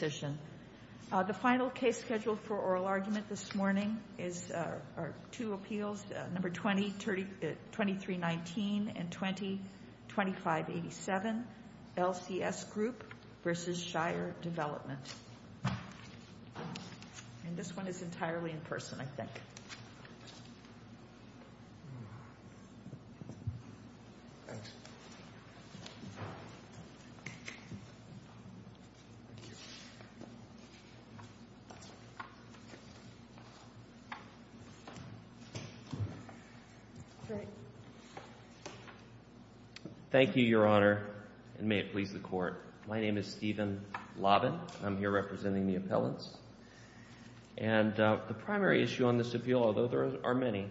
The final case scheduled for oral argument this morning are two appeals, No. 20-2319 and 20-2587, LCS Group v. Shire Development. And this one is entirely in person, I think. Great. Thank you, Your Honor, and may it please the Court. My name is Steven Lobbin. I'm here representing the appellants. And the primary issue on this appeal, although there are many,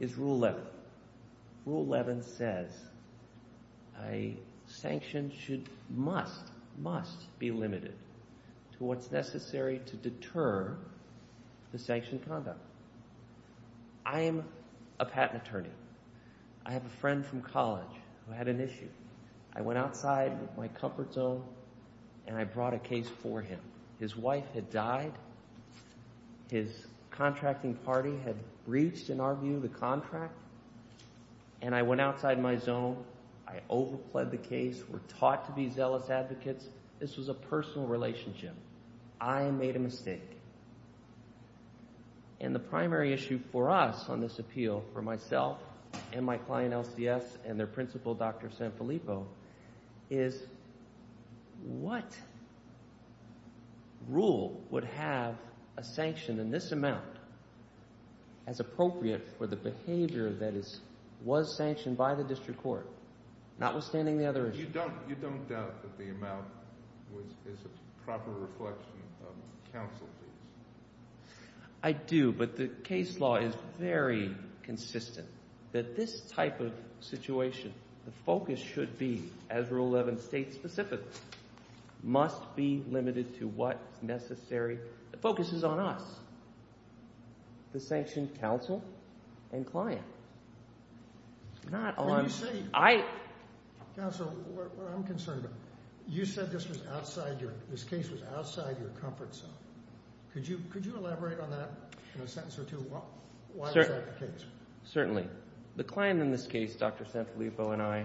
is Rule 11. Rule 11 says a sanction should—must, must be limited to what's necessary to deter the sanctioned conduct. I am a patent attorney. I have a friend from college who had an issue. I went outside my comfort zone and I brought a case for him. His wife had died. His contracting party had breached, in our view, the contract. And I went outside my zone. I overpled the case. We're taught to be zealous advocates. This was a personal relationship. I made a mistake. And the primary issue for us on this appeal, for myself and my client, LCS, and their principal, Dr. Sanfilippo, is what rule would have a sanction in this amount as appropriate for the behavior that was sanctioned by the district court, notwithstanding the other issue? So you don't doubt that the amount is a proper reflection of counsel fees? I do, but the case law is very consistent that this type of situation, the focus should be, as Rule 11 states specifically, must be limited to what's necessary. The focus is on us, the sanctioned counsel and client, not on— What I'm concerned about, you said this was outside your—this case was outside your comfort zone. Could you elaborate on that in a sentence or two? Why was that the case? Certainly. The client in this case, Dr. Sanfilippo and I,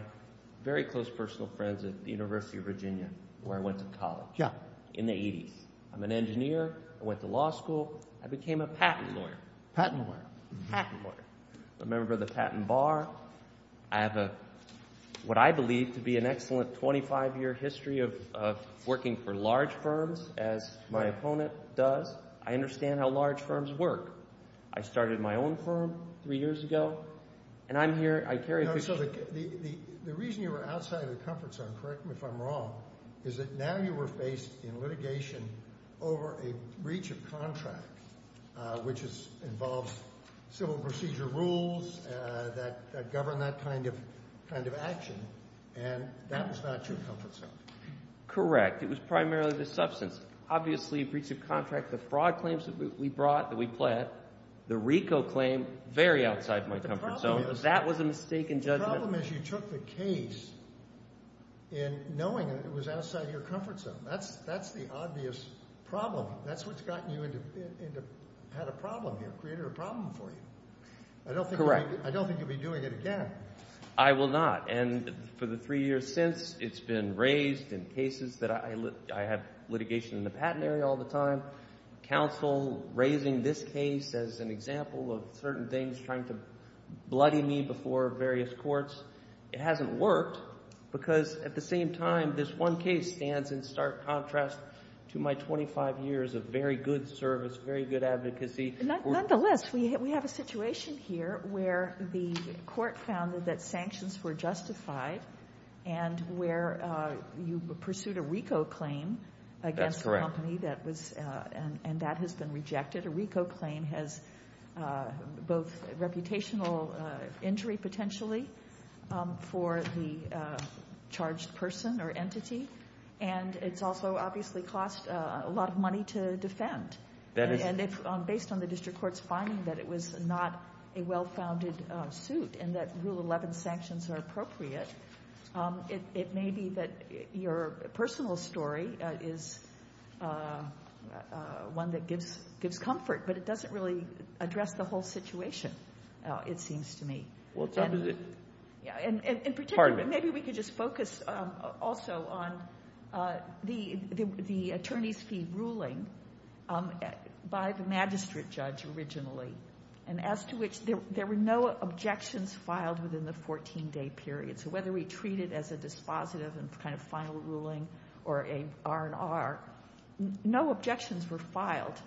very close personal friends at the University of Virginia where I went to college in the 80s. I'm an engineer. I went to law school. I became a patent lawyer. Patent lawyer. I'm a member of the patent bar. I have what I believe to be an excellent 25-year history of working for large firms, as my opponent does. I understand how large firms work. I started my own firm three years ago, and I'm here— No, so the reason you were outside of the comfort zone, correct me if I'm wrong, is that now you were faced in litigation over a breach of contract, which involves civil procedure rules that govern that kind of action, and that was not your comfort zone. Correct. It was primarily the substance. The problem is you took the case in knowing it was outside your comfort zone. That's the obvious problem. That's what's gotten you into—had a problem here, created a problem for you. Correct. I don't think you'll be doing it again. I will not, and for the three years since, it's been raised in cases that I have litigation in the patenary all the time. Counsel raising this case as an example of certain things trying to bloody me before various courts. It hasn't worked because, at the same time, this one case stands in stark contrast to my 25 years of very good service, very good advocacy. Nonetheless, we have a situation here where the court found that sanctions were justified and where you pursued a RICO claim against a company— That's correct. —and that has been rejected. A RICO claim has both reputational injury, potentially, for the charged person or entity, and it's also obviously cost a lot of money to defend. And based on the district court's finding that it was not a well-founded suit and that Rule 11 sanctions are appropriate, it may be that your personal story is one that gives comfort, but it doesn't really address the whole situation, it seems to me. What type is it? In particular, maybe we could just focus also on the attorney's fee ruling by the magistrate judge originally, and as to which there were no objections filed within the 14-day period. So whether we treat it as a dispositive and kind of final ruling or an R&R, no objections were filed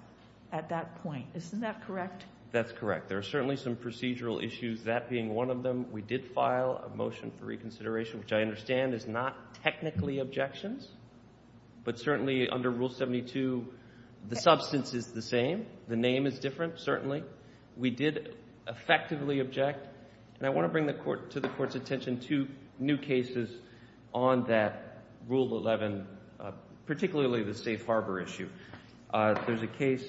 at that point. Isn't that correct? That's correct. There are certainly some procedural issues, that being one of them. We did file a motion for reconsideration, which I understand is not technically objections, but certainly under Rule 72, the substance is the same. The name is different, certainly. We did effectively object, and I want to bring to the Court's attention two new cases on that Rule 11, particularly the safe harbor issue. There's a case,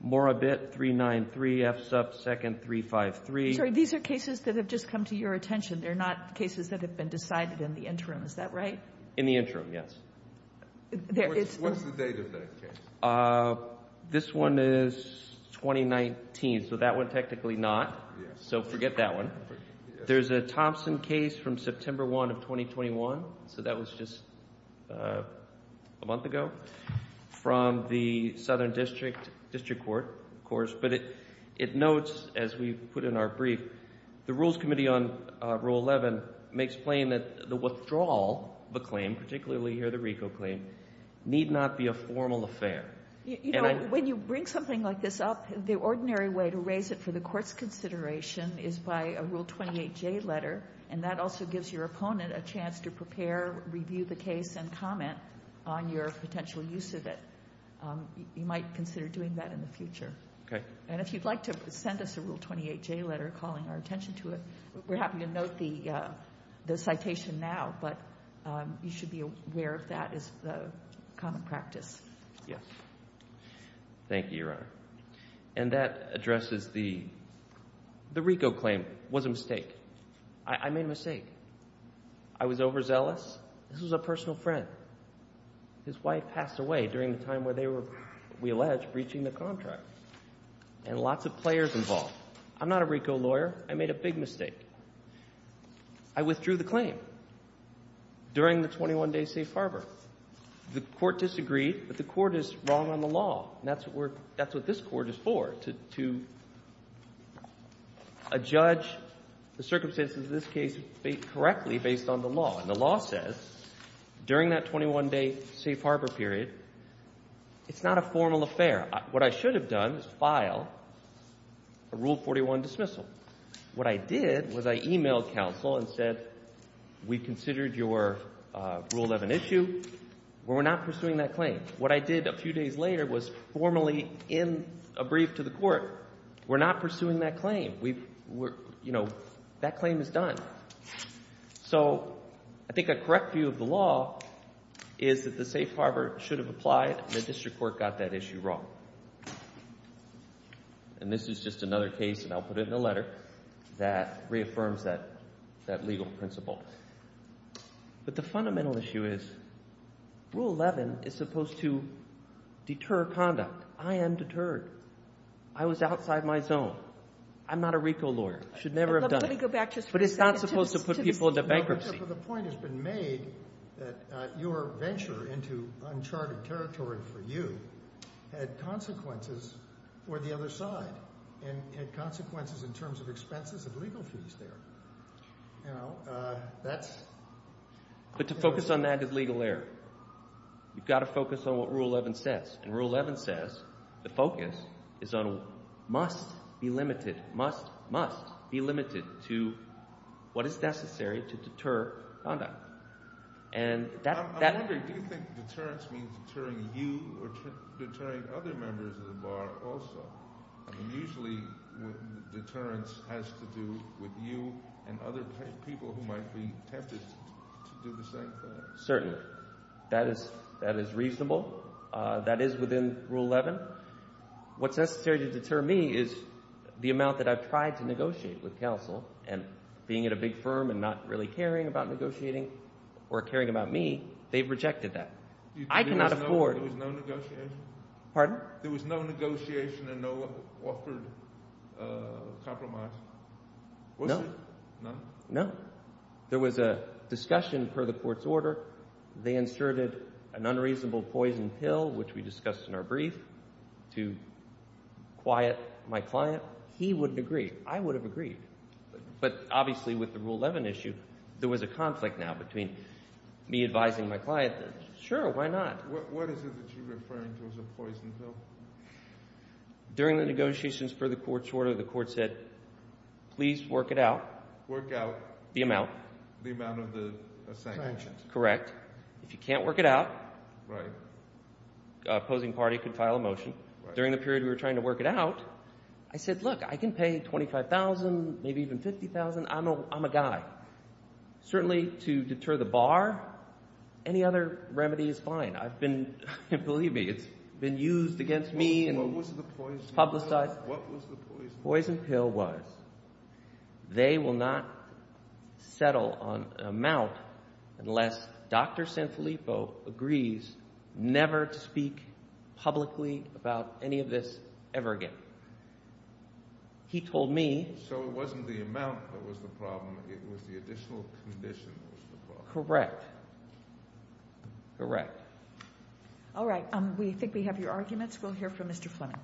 more a bit, 393 F sub 2nd 353. Sorry, these are cases that have just come to your attention. They're not cases that have been decided in the interim. Is that right? In the interim, yes. What's the date of that case? This one is 2019, so that one technically not, so forget that one. There's a Thompson case from September 1 of 2021, so that was just a month ago, from the Southern District Court, of course. But it notes, as we put in our brief, the Rules Committee on Rule 11 makes plain that the withdrawal of a claim, particularly here the RICO claim, need not be a formal affair. When you bring something like this up, the ordinary way to raise it for the Court's consideration is by a Rule 28J letter, and that also gives your opponent a chance to prepare, review the case, and comment on your potential use of it. You might consider doing that in the future. And if you'd like to send us a Rule 28J letter calling our attention to it, we're happy to note the citation now, but you should be aware of that as the common practice. Yes. Thank you, Your Honor. And that addresses the RICO claim was a mistake. I made a mistake. I was overzealous. This was a personal friend. His wife passed away during the time where they were, we allege, breaching the contract, and lots of players involved. I'm not a RICO lawyer. I made a big mistake. I withdrew the claim during the 21-day safe harbor. The Court disagreed, but the Court is wrong on the law, and that's what this Court is for, to judge the circumstances of this case correctly based on the law. And the law says during that 21-day safe harbor period, it's not a formal affair. What I should have done is filed a Rule 41 dismissal. What I did was I emailed counsel and said, we considered your Rule 11 issue, but we're not pursuing that claim. What I did a few days later was formally in a brief to the Court. We're not pursuing that claim. That claim is done. So I think a correct view of the law is that the safe harbor should have applied, and the district court got that issue wrong. And this is just another case, and I'll put it in a letter, that reaffirms that legal principle. But the fundamental issue is Rule 11 is supposed to deter conduct. I am deterred. I was outside my zone. I'm not a RICO lawyer. I should never have done it. But it's not supposed to put people into bankruptcy. But the point has been made that your venture into uncharted territory for you had consequences for the other side, and had consequences in terms of expenses of legal fees there. You know, that's— But to focus on that is legal error. You've got to focus on what Rule 11 says. And Rule 11 says the focus is on must be limited, must, must be limited to what is necessary to deter conduct. I'm wondering, do you think deterrence means deterring you or deterring other members of the bar also? I mean, usually deterrence has to do with you and other people who might be tempted to do the same thing. Certainly. That is reasonable. That is within Rule 11. What's necessary to deter me is the amount that I've tried to negotiate with counsel. And being at a big firm and not really caring about negotiating or caring about me, they've rejected that. I cannot afford— There was no negotiation? Pardon? There was no negotiation and no offered compromise? No. None? No. There was a discussion per the court's order. They inserted an unreasonable poison pill, which we discussed in our brief, to quiet my client. He wouldn't agree. I would have agreed. But obviously with the Rule 11 issue, there was a conflict now between me advising my client. Sure, why not? What is it that you're referring to as a poison pill? During the negotiations per the court's order, the court said, please work it out. Work out? The amount. The amount of the sanctions? Correct. If you can't work it out, the opposing party could file a motion. During the period we were trying to work it out, I said, look, I can pay $25,000, maybe even $50,000. I'm a guy. Certainly to deter the bar, any other remedy is fine. I've been—believe me, it's been used against me and publicized. What was the poison pill? What was the poison pill? They will not settle on an amount unless Dr. Sanfilippo agrees never to speak publicly about any of this ever again. He told me— So it wasn't the amount that was the problem. It was the additional condition that was the problem. Correct. Correct. All right. We think we have your arguments. We'll hear from Mr. Fleming.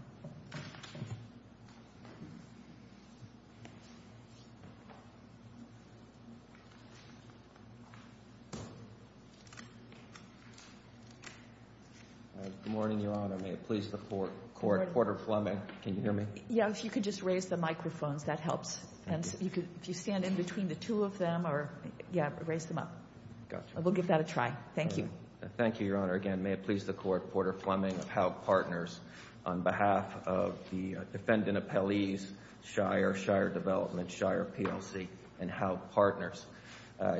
Good morning, Your Honor. May it please the Court, Porter Fleming. Can you hear me? Yes, if you could just raise the microphones, that helps. And if you stand in between the two of them or—yeah, raise them up. Got you. We'll give that a try. Thank you. Thank you, Your Honor. Again, may it please the Court, Porter Fleming of Howe Partners. On behalf of the defendant appellees, Shire, Shire Development, Shire PLC, and Howe Partners.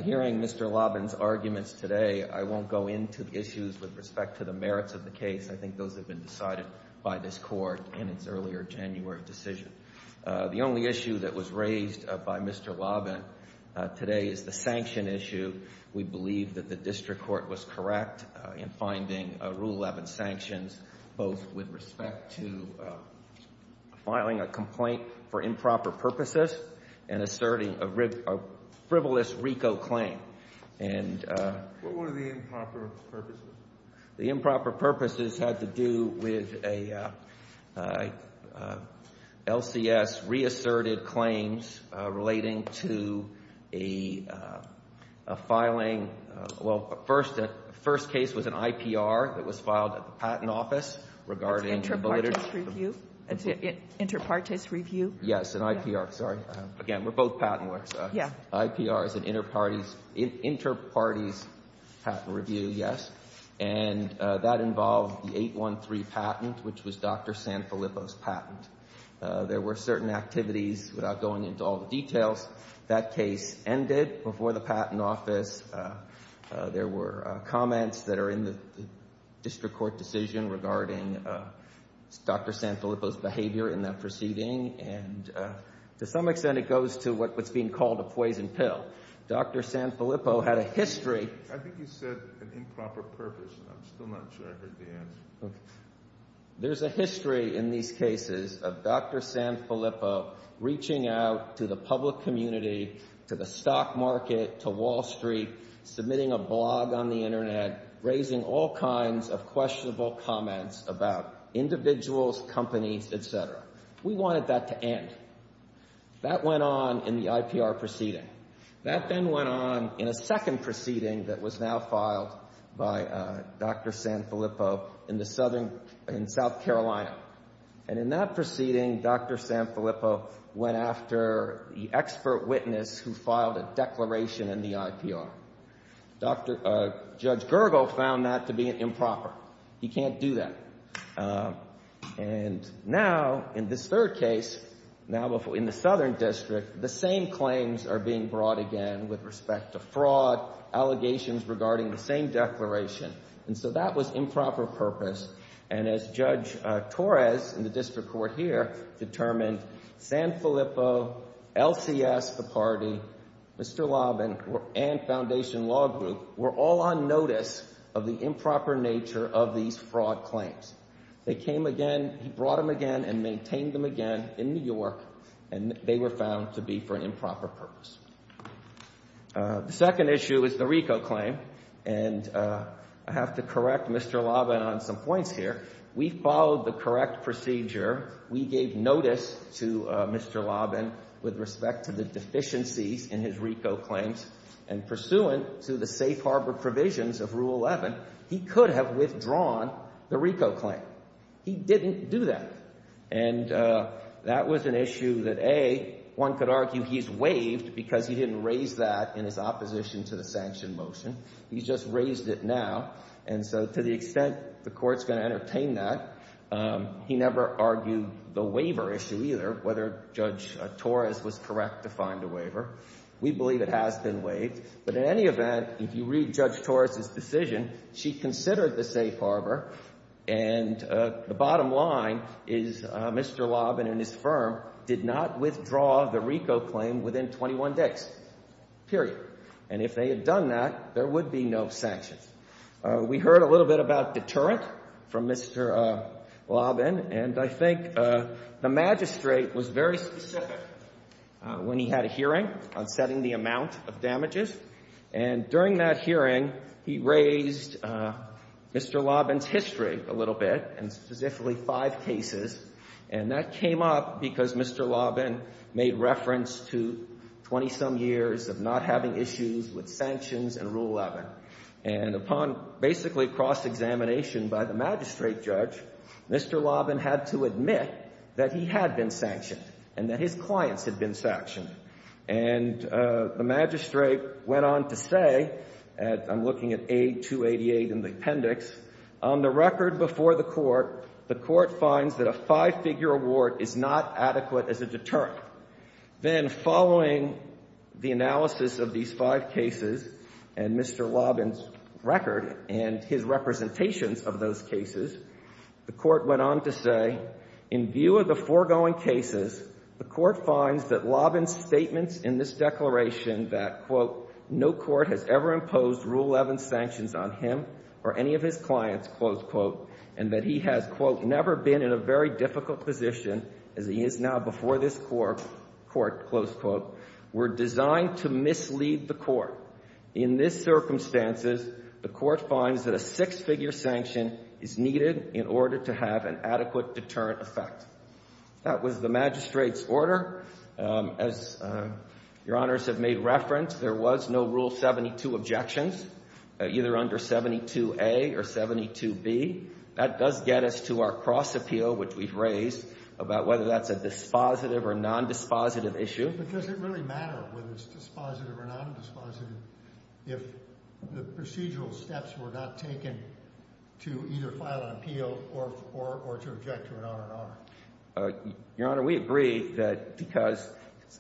Hearing Mr. Lobbin's arguments today, I won't go into the issues with respect to the merits of the case. I think those have been decided by this Court in its earlier January decision. The only issue that was raised by Mr. Lobbin today is the sanction issue. We believe that the district court was correct in finding Rule 11 sanctions, both with respect to filing a complaint for improper purposes and asserting a frivolous RICO claim. What were the improper purposes? The improper purposes had to do with a LCS reasserted claims relating to a filing—well, the first case was an IPR that was filed at the Patent Office regarding— Interparties review. Interparties review. Yes, an IPR. Sorry. Again, we're both patent lawyers. Yeah. IPR is an interparties patent review, yes. And that involved the 813 patent, which was Dr. Sanfilippo's patent. There were certain activities, without going into all the details, that case ended before the Patent Office. There were comments that are in the district court decision regarding Dr. Sanfilippo's behavior in that proceeding. And to some extent, it goes to what's being called a poison pill. Dr. Sanfilippo had a history— I'm still not sure I heard the answer. There's a history in these cases of Dr. Sanfilippo reaching out to the public community, to the stock market, to Wall Street, submitting a blog on the Internet, raising all kinds of questionable comments about individuals, companies, et cetera. We wanted that to end. That went on in the IPR proceeding. That then went on in a second proceeding that was now filed by Dr. Sanfilippo in South Carolina. And in that proceeding, Dr. Sanfilippo went after the expert witness who filed a declaration in the IPR. Judge Gergel found that to be improper. He can't do that. And now, in this third case, now in the Southern District, the same claims are being brought again with respect to fraud, allegations regarding the same declaration. And so that was improper purpose. And as Judge Torres in the district court here determined, Sanfilippo, LCS, the party, Mr. Laban, and Foundation Law Group were all on notice of the improper nature of these fraud claims. They came again—he brought them again and maintained them again in New York, and they were found to be for an improper purpose. The second issue is the RICO claim, and I have to correct Mr. Laban on some points here. We followed the correct procedure. We gave notice to Mr. Laban with respect to the deficiencies in his RICO claims, and pursuant to the safe harbor provisions of Rule 11, he could have withdrawn the RICO claim. He didn't do that. And that was an issue that, A, one could argue he's waived because he didn't raise that in his opposition to the sanction motion. He's just raised it now. And so to the extent the Court's going to entertain that, he never argued the waiver issue either, whether Judge Torres was correct to find a waiver. We believe it has been waived. But in any event, if you read Judge Torres's decision, she considered the safe harbor, and the bottom line is Mr. Laban and his firm did not withdraw the RICO claim within 21 days, period. And if they had done that, there would be no sanctions. We heard a little bit about deterrent from Mr. Laban, and I think the magistrate was very specific when he had a hearing on setting the amount of damages. And during that hearing, he raised Mr. Laban's history a little bit, and specifically five cases. And that came up because Mr. Laban made reference to 20-some years of not having issues with sanctions and Rule 11. And upon basically cross-examination by the magistrate judge, Mr. Laban had to admit that he had been sanctioned and that his clients had been sanctioned. And the magistrate went on to say, and I'm looking at A. 288 in the appendix, on the record before the Court, the Court finds that a five-figure award is not adequate as a deterrent. Then following the analysis of these five cases and Mr. Laban's record and his representations of those cases, the Court went on to say, in view of the foregoing cases, the Court finds that Laban's statements in this declaration that, quote, no court has ever imposed Rule 11 sanctions on him or any of his clients, close quote, and that he has, quote, never been in a very difficult position as he is now before this Court, close quote, were designed to mislead the Court. In this circumstances, the Court finds that a six-figure sanction is needed in order to have an adequate deterrent effect. As Your Honors have made reference, there was no Rule 72 objections, either under 72A or 72B. That does get us to our cross-appeal, which we've raised, about whether that's a dispositive or nondispositive issue. But does it really matter whether it's dispositive or nondispositive if the procedural steps were not taken to either file an appeal or to object to an honor and honor? Your Honor, we agree that because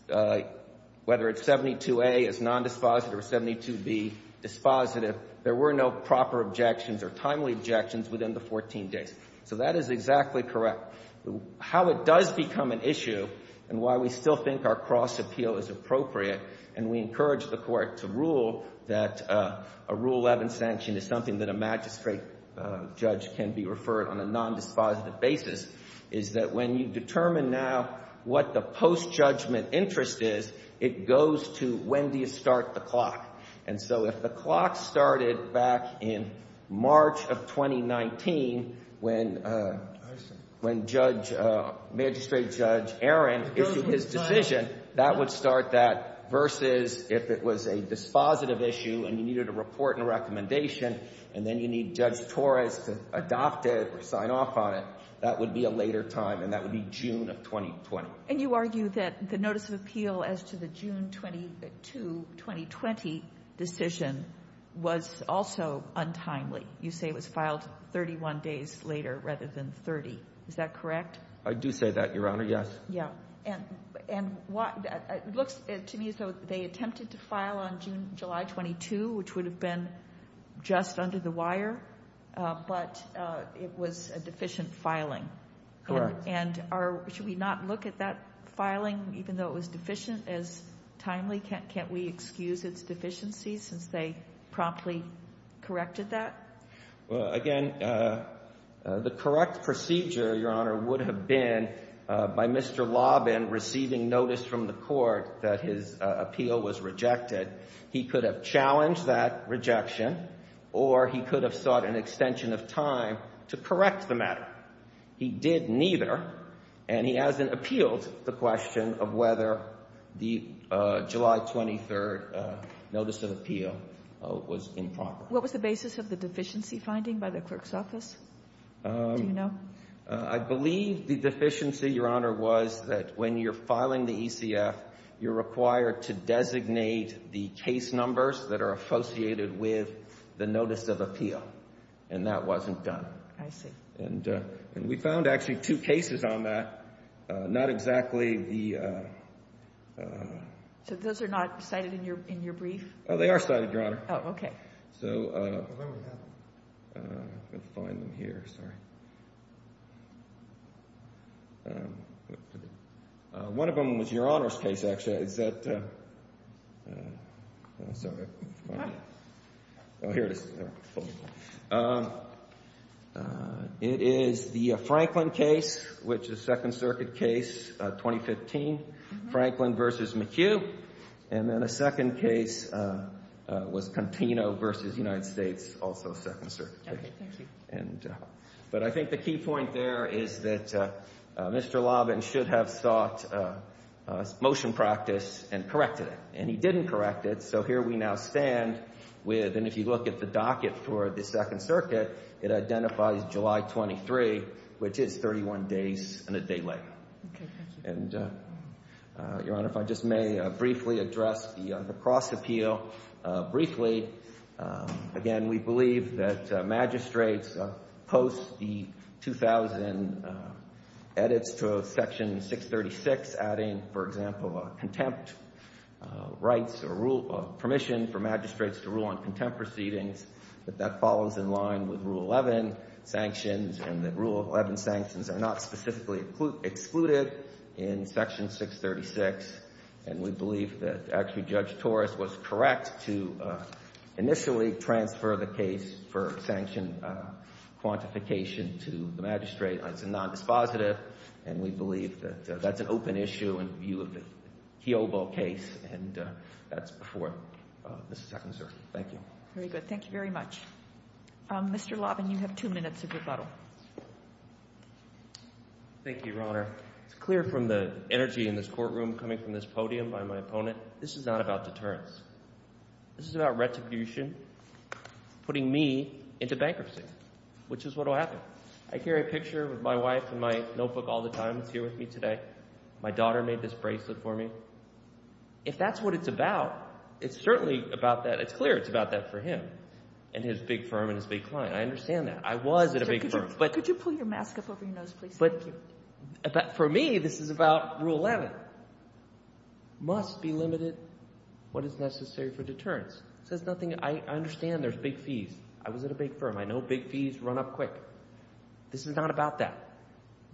whether it's 72A is nondispositive or 72B dispositive, there were no proper objections or timely objections within the 14 days. So that is exactly correct. How it does become an issue and why we still think our cross-appeal is appropriate, and we encourage the Court to rule that a Rule 11 sanction is something that a magistrate judge can be referred on a nondispositive basis, is that when you determine now what the post-judgment interest is, it goes to when do you start the clock. And so if the clock started back in March of 2019 when Magistrate Judge Aaron issued his decision, that would start that versus if it was a dispositive issue and you needed a report and recommendation, and then you need Judge Torres to adopt it or sign off on it, that would be a later time, and that would be June of 2020. And you argue that the notice of appeal as to the June 22, 2020 decision was also untimely. You say it was filed 31 days later rather than 30. Is that correct? I do say that, Your Honor, yes. Yeah. And it looks to me as though they attempted to file on July 22, which would have been just under the wire, but it was a deficient filing. Correct. And should we not look at that filing even though it was deficient as timely? Can't we excuse its deficiency since they promptly corrected that? Well, again, the correct procedure, Your Honor, would have been by Mr. Lobbin receiving notice from the court that his appeal was rejected. He could have challenged that rejection or he could have sought an extension of time to correct the matter. He did neither, and he hasn't appealed the question of whether the July 23 notice of appeal was improper. What was the basis of the deficiency finding by the clerk's office? Do you know? I believe the deficiency, Your Honor, was that when you're filing the ECF, you're required to designate the case numbers that are associated with the notice of appeal, and that wasn't done. I see. And we found actually two cases on that, not exactly the— So those are not cited in your brief? Oh, they are cited, Your Honor. Oh, okay. So I'm going to find them here. Sorry. One of them was Your Honor's case, actually. It is the Franklin case, which is Second Circuit case 2015, Franklin v. McHugh. And then a second case was Contino v. United States, also Second Circuit. Okay, thank you. But I think the key point there is that Mr. Lobbin should have sought motion practice and corrected it. And he didn't correct it, so here we now stand with—and if you look at the docket for the Second Circuit, it identifies July 23, which is 31 days and a day later. Okay, thank you. And, Your Honor, if I just may briefly address the cross-appeal. Briefly, again, we believe that magistrates post the 2000 edits to Section 636, adding, for example, a contempt rights or rule—permission for magistrates to rule on contempt proceedings, but that follows in line with Rule 11 sanctions, and the Rule 11 sanctions are not specifically excluded in Section 636. And we believe that actually Judge Torres was correct to initially transfer the case for sanction quantification to the magistrate. It's a nondispositive, and we believe that that's an open issue in view of the Kiobo case, and that's before the Second Circuit. Thank you. Very good. Thank you very much. Mr. Lobbin, you have two minutes of rebuttal. Thank you, Your Honor. It's clear from the energy in this courtroom coming from this podium by my opponent, this is not about deterrence. This is about retribution, putting me into bankruptcy, which is what will happen. I carry a picture with my wife in my notebook all the time. It's here with me today. My daughter made this bracelet for me. If that's what it's about, it's certainly about that. It's clear it's about that for him and his big firm and his big client. I understand that. I was at a big firm. Could you pull your mask up over your nose, please? Thank you. For me, this is about Rule 11. Must be limited what is necessary for deterrence. It says nothing. I understand there's big fees. I was at a big firm. I know big fees run up quick. This is not about that.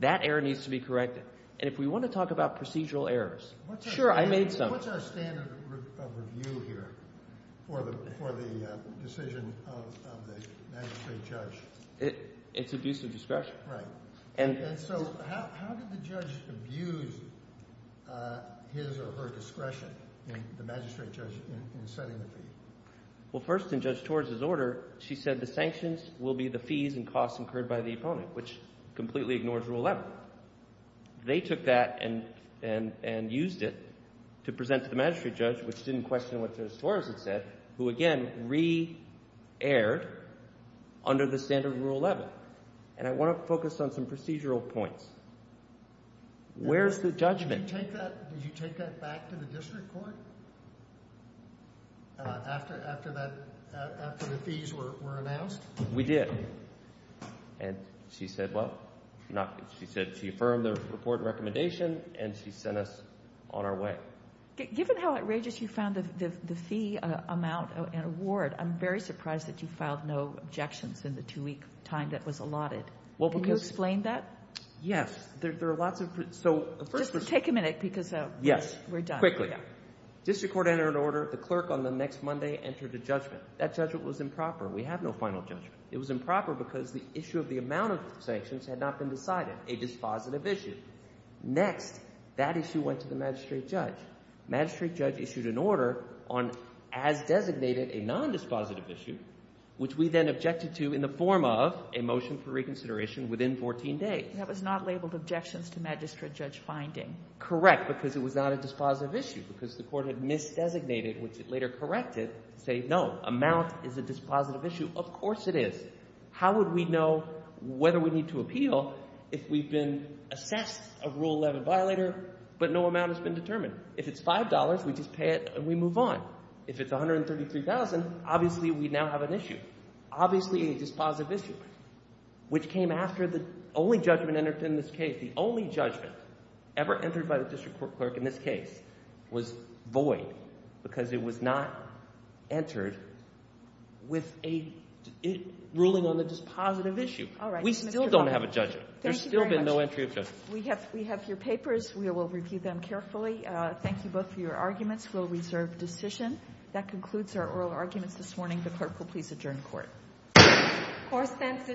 That error needs to be corrected. And if we want to talk about procedural errors, sure, I made some. What's our standard of review here for the decision of the magistrate judge? It's abuse of discretion. Right. And so how did the judge abuse his or her discretion, the magistrate judge, in setting the fee? Well, first, in Judge Torres' order, she said the sanctions will be the fees and costs incurred by the opponent, which completely ignores Rule 11. They took that and used it to present to the magistrate judge, which didn't question what Judge Torres had said, who, again, re-erred under the standard of Rule 11. And I want to focus on some procedural points. Where's the judgment? Did you take that back to the district court after the fees were announced? We did. And she said, well, she affirmed the report and recommendation, and she sent us on our way. Given how outrageous you found the fee amount and award, I'm very surprised that you filed no objections in the two-week time that was allotted. Can you explain that? Yes. There are lots of— Just take a minute because we're done. Yes. Quickly. District court entered an order. The clerk on the next Monday entered a judgment. That judgment was improper. We have no final judgment. It was improper because the issue of the amount of sanctions had not been decided, a dispositive issue. Next, that issue went to the magistrate judge. Magistrate judge issued an order on, as designated, a nondispositive issue, which we then objected to in the form of a motion for reconsideration within 14 days. That was not labeled objections to magistrate judge finding. Correct, because it was not a dispositive issue, because the court had misdesignated, which it later corrected, to say, no, amount is a dispositive issue. Of course it is. How would we know whether we need to appeal if we've been assessed a Rule 11 violator but no amount has been determined? If it's $5, we just pay it and we move on. If it's $133,000, obviously we now have an issue, obviously a dispositive issue, which came after the only judgment entered in this case. The only judgment ever entered by the district court clerk in this case was void because it was not entered with a ruling on a dispositive issue. All right. We still don't have a judgment. Thank you very much. There's still been no entry of judgment. We have your papers. We will review them carefully. Thank you both for your arguments. We'll reserve decision. That concludes our oral arguments this morning. The clerk will please adjourn court. Court is adjourned.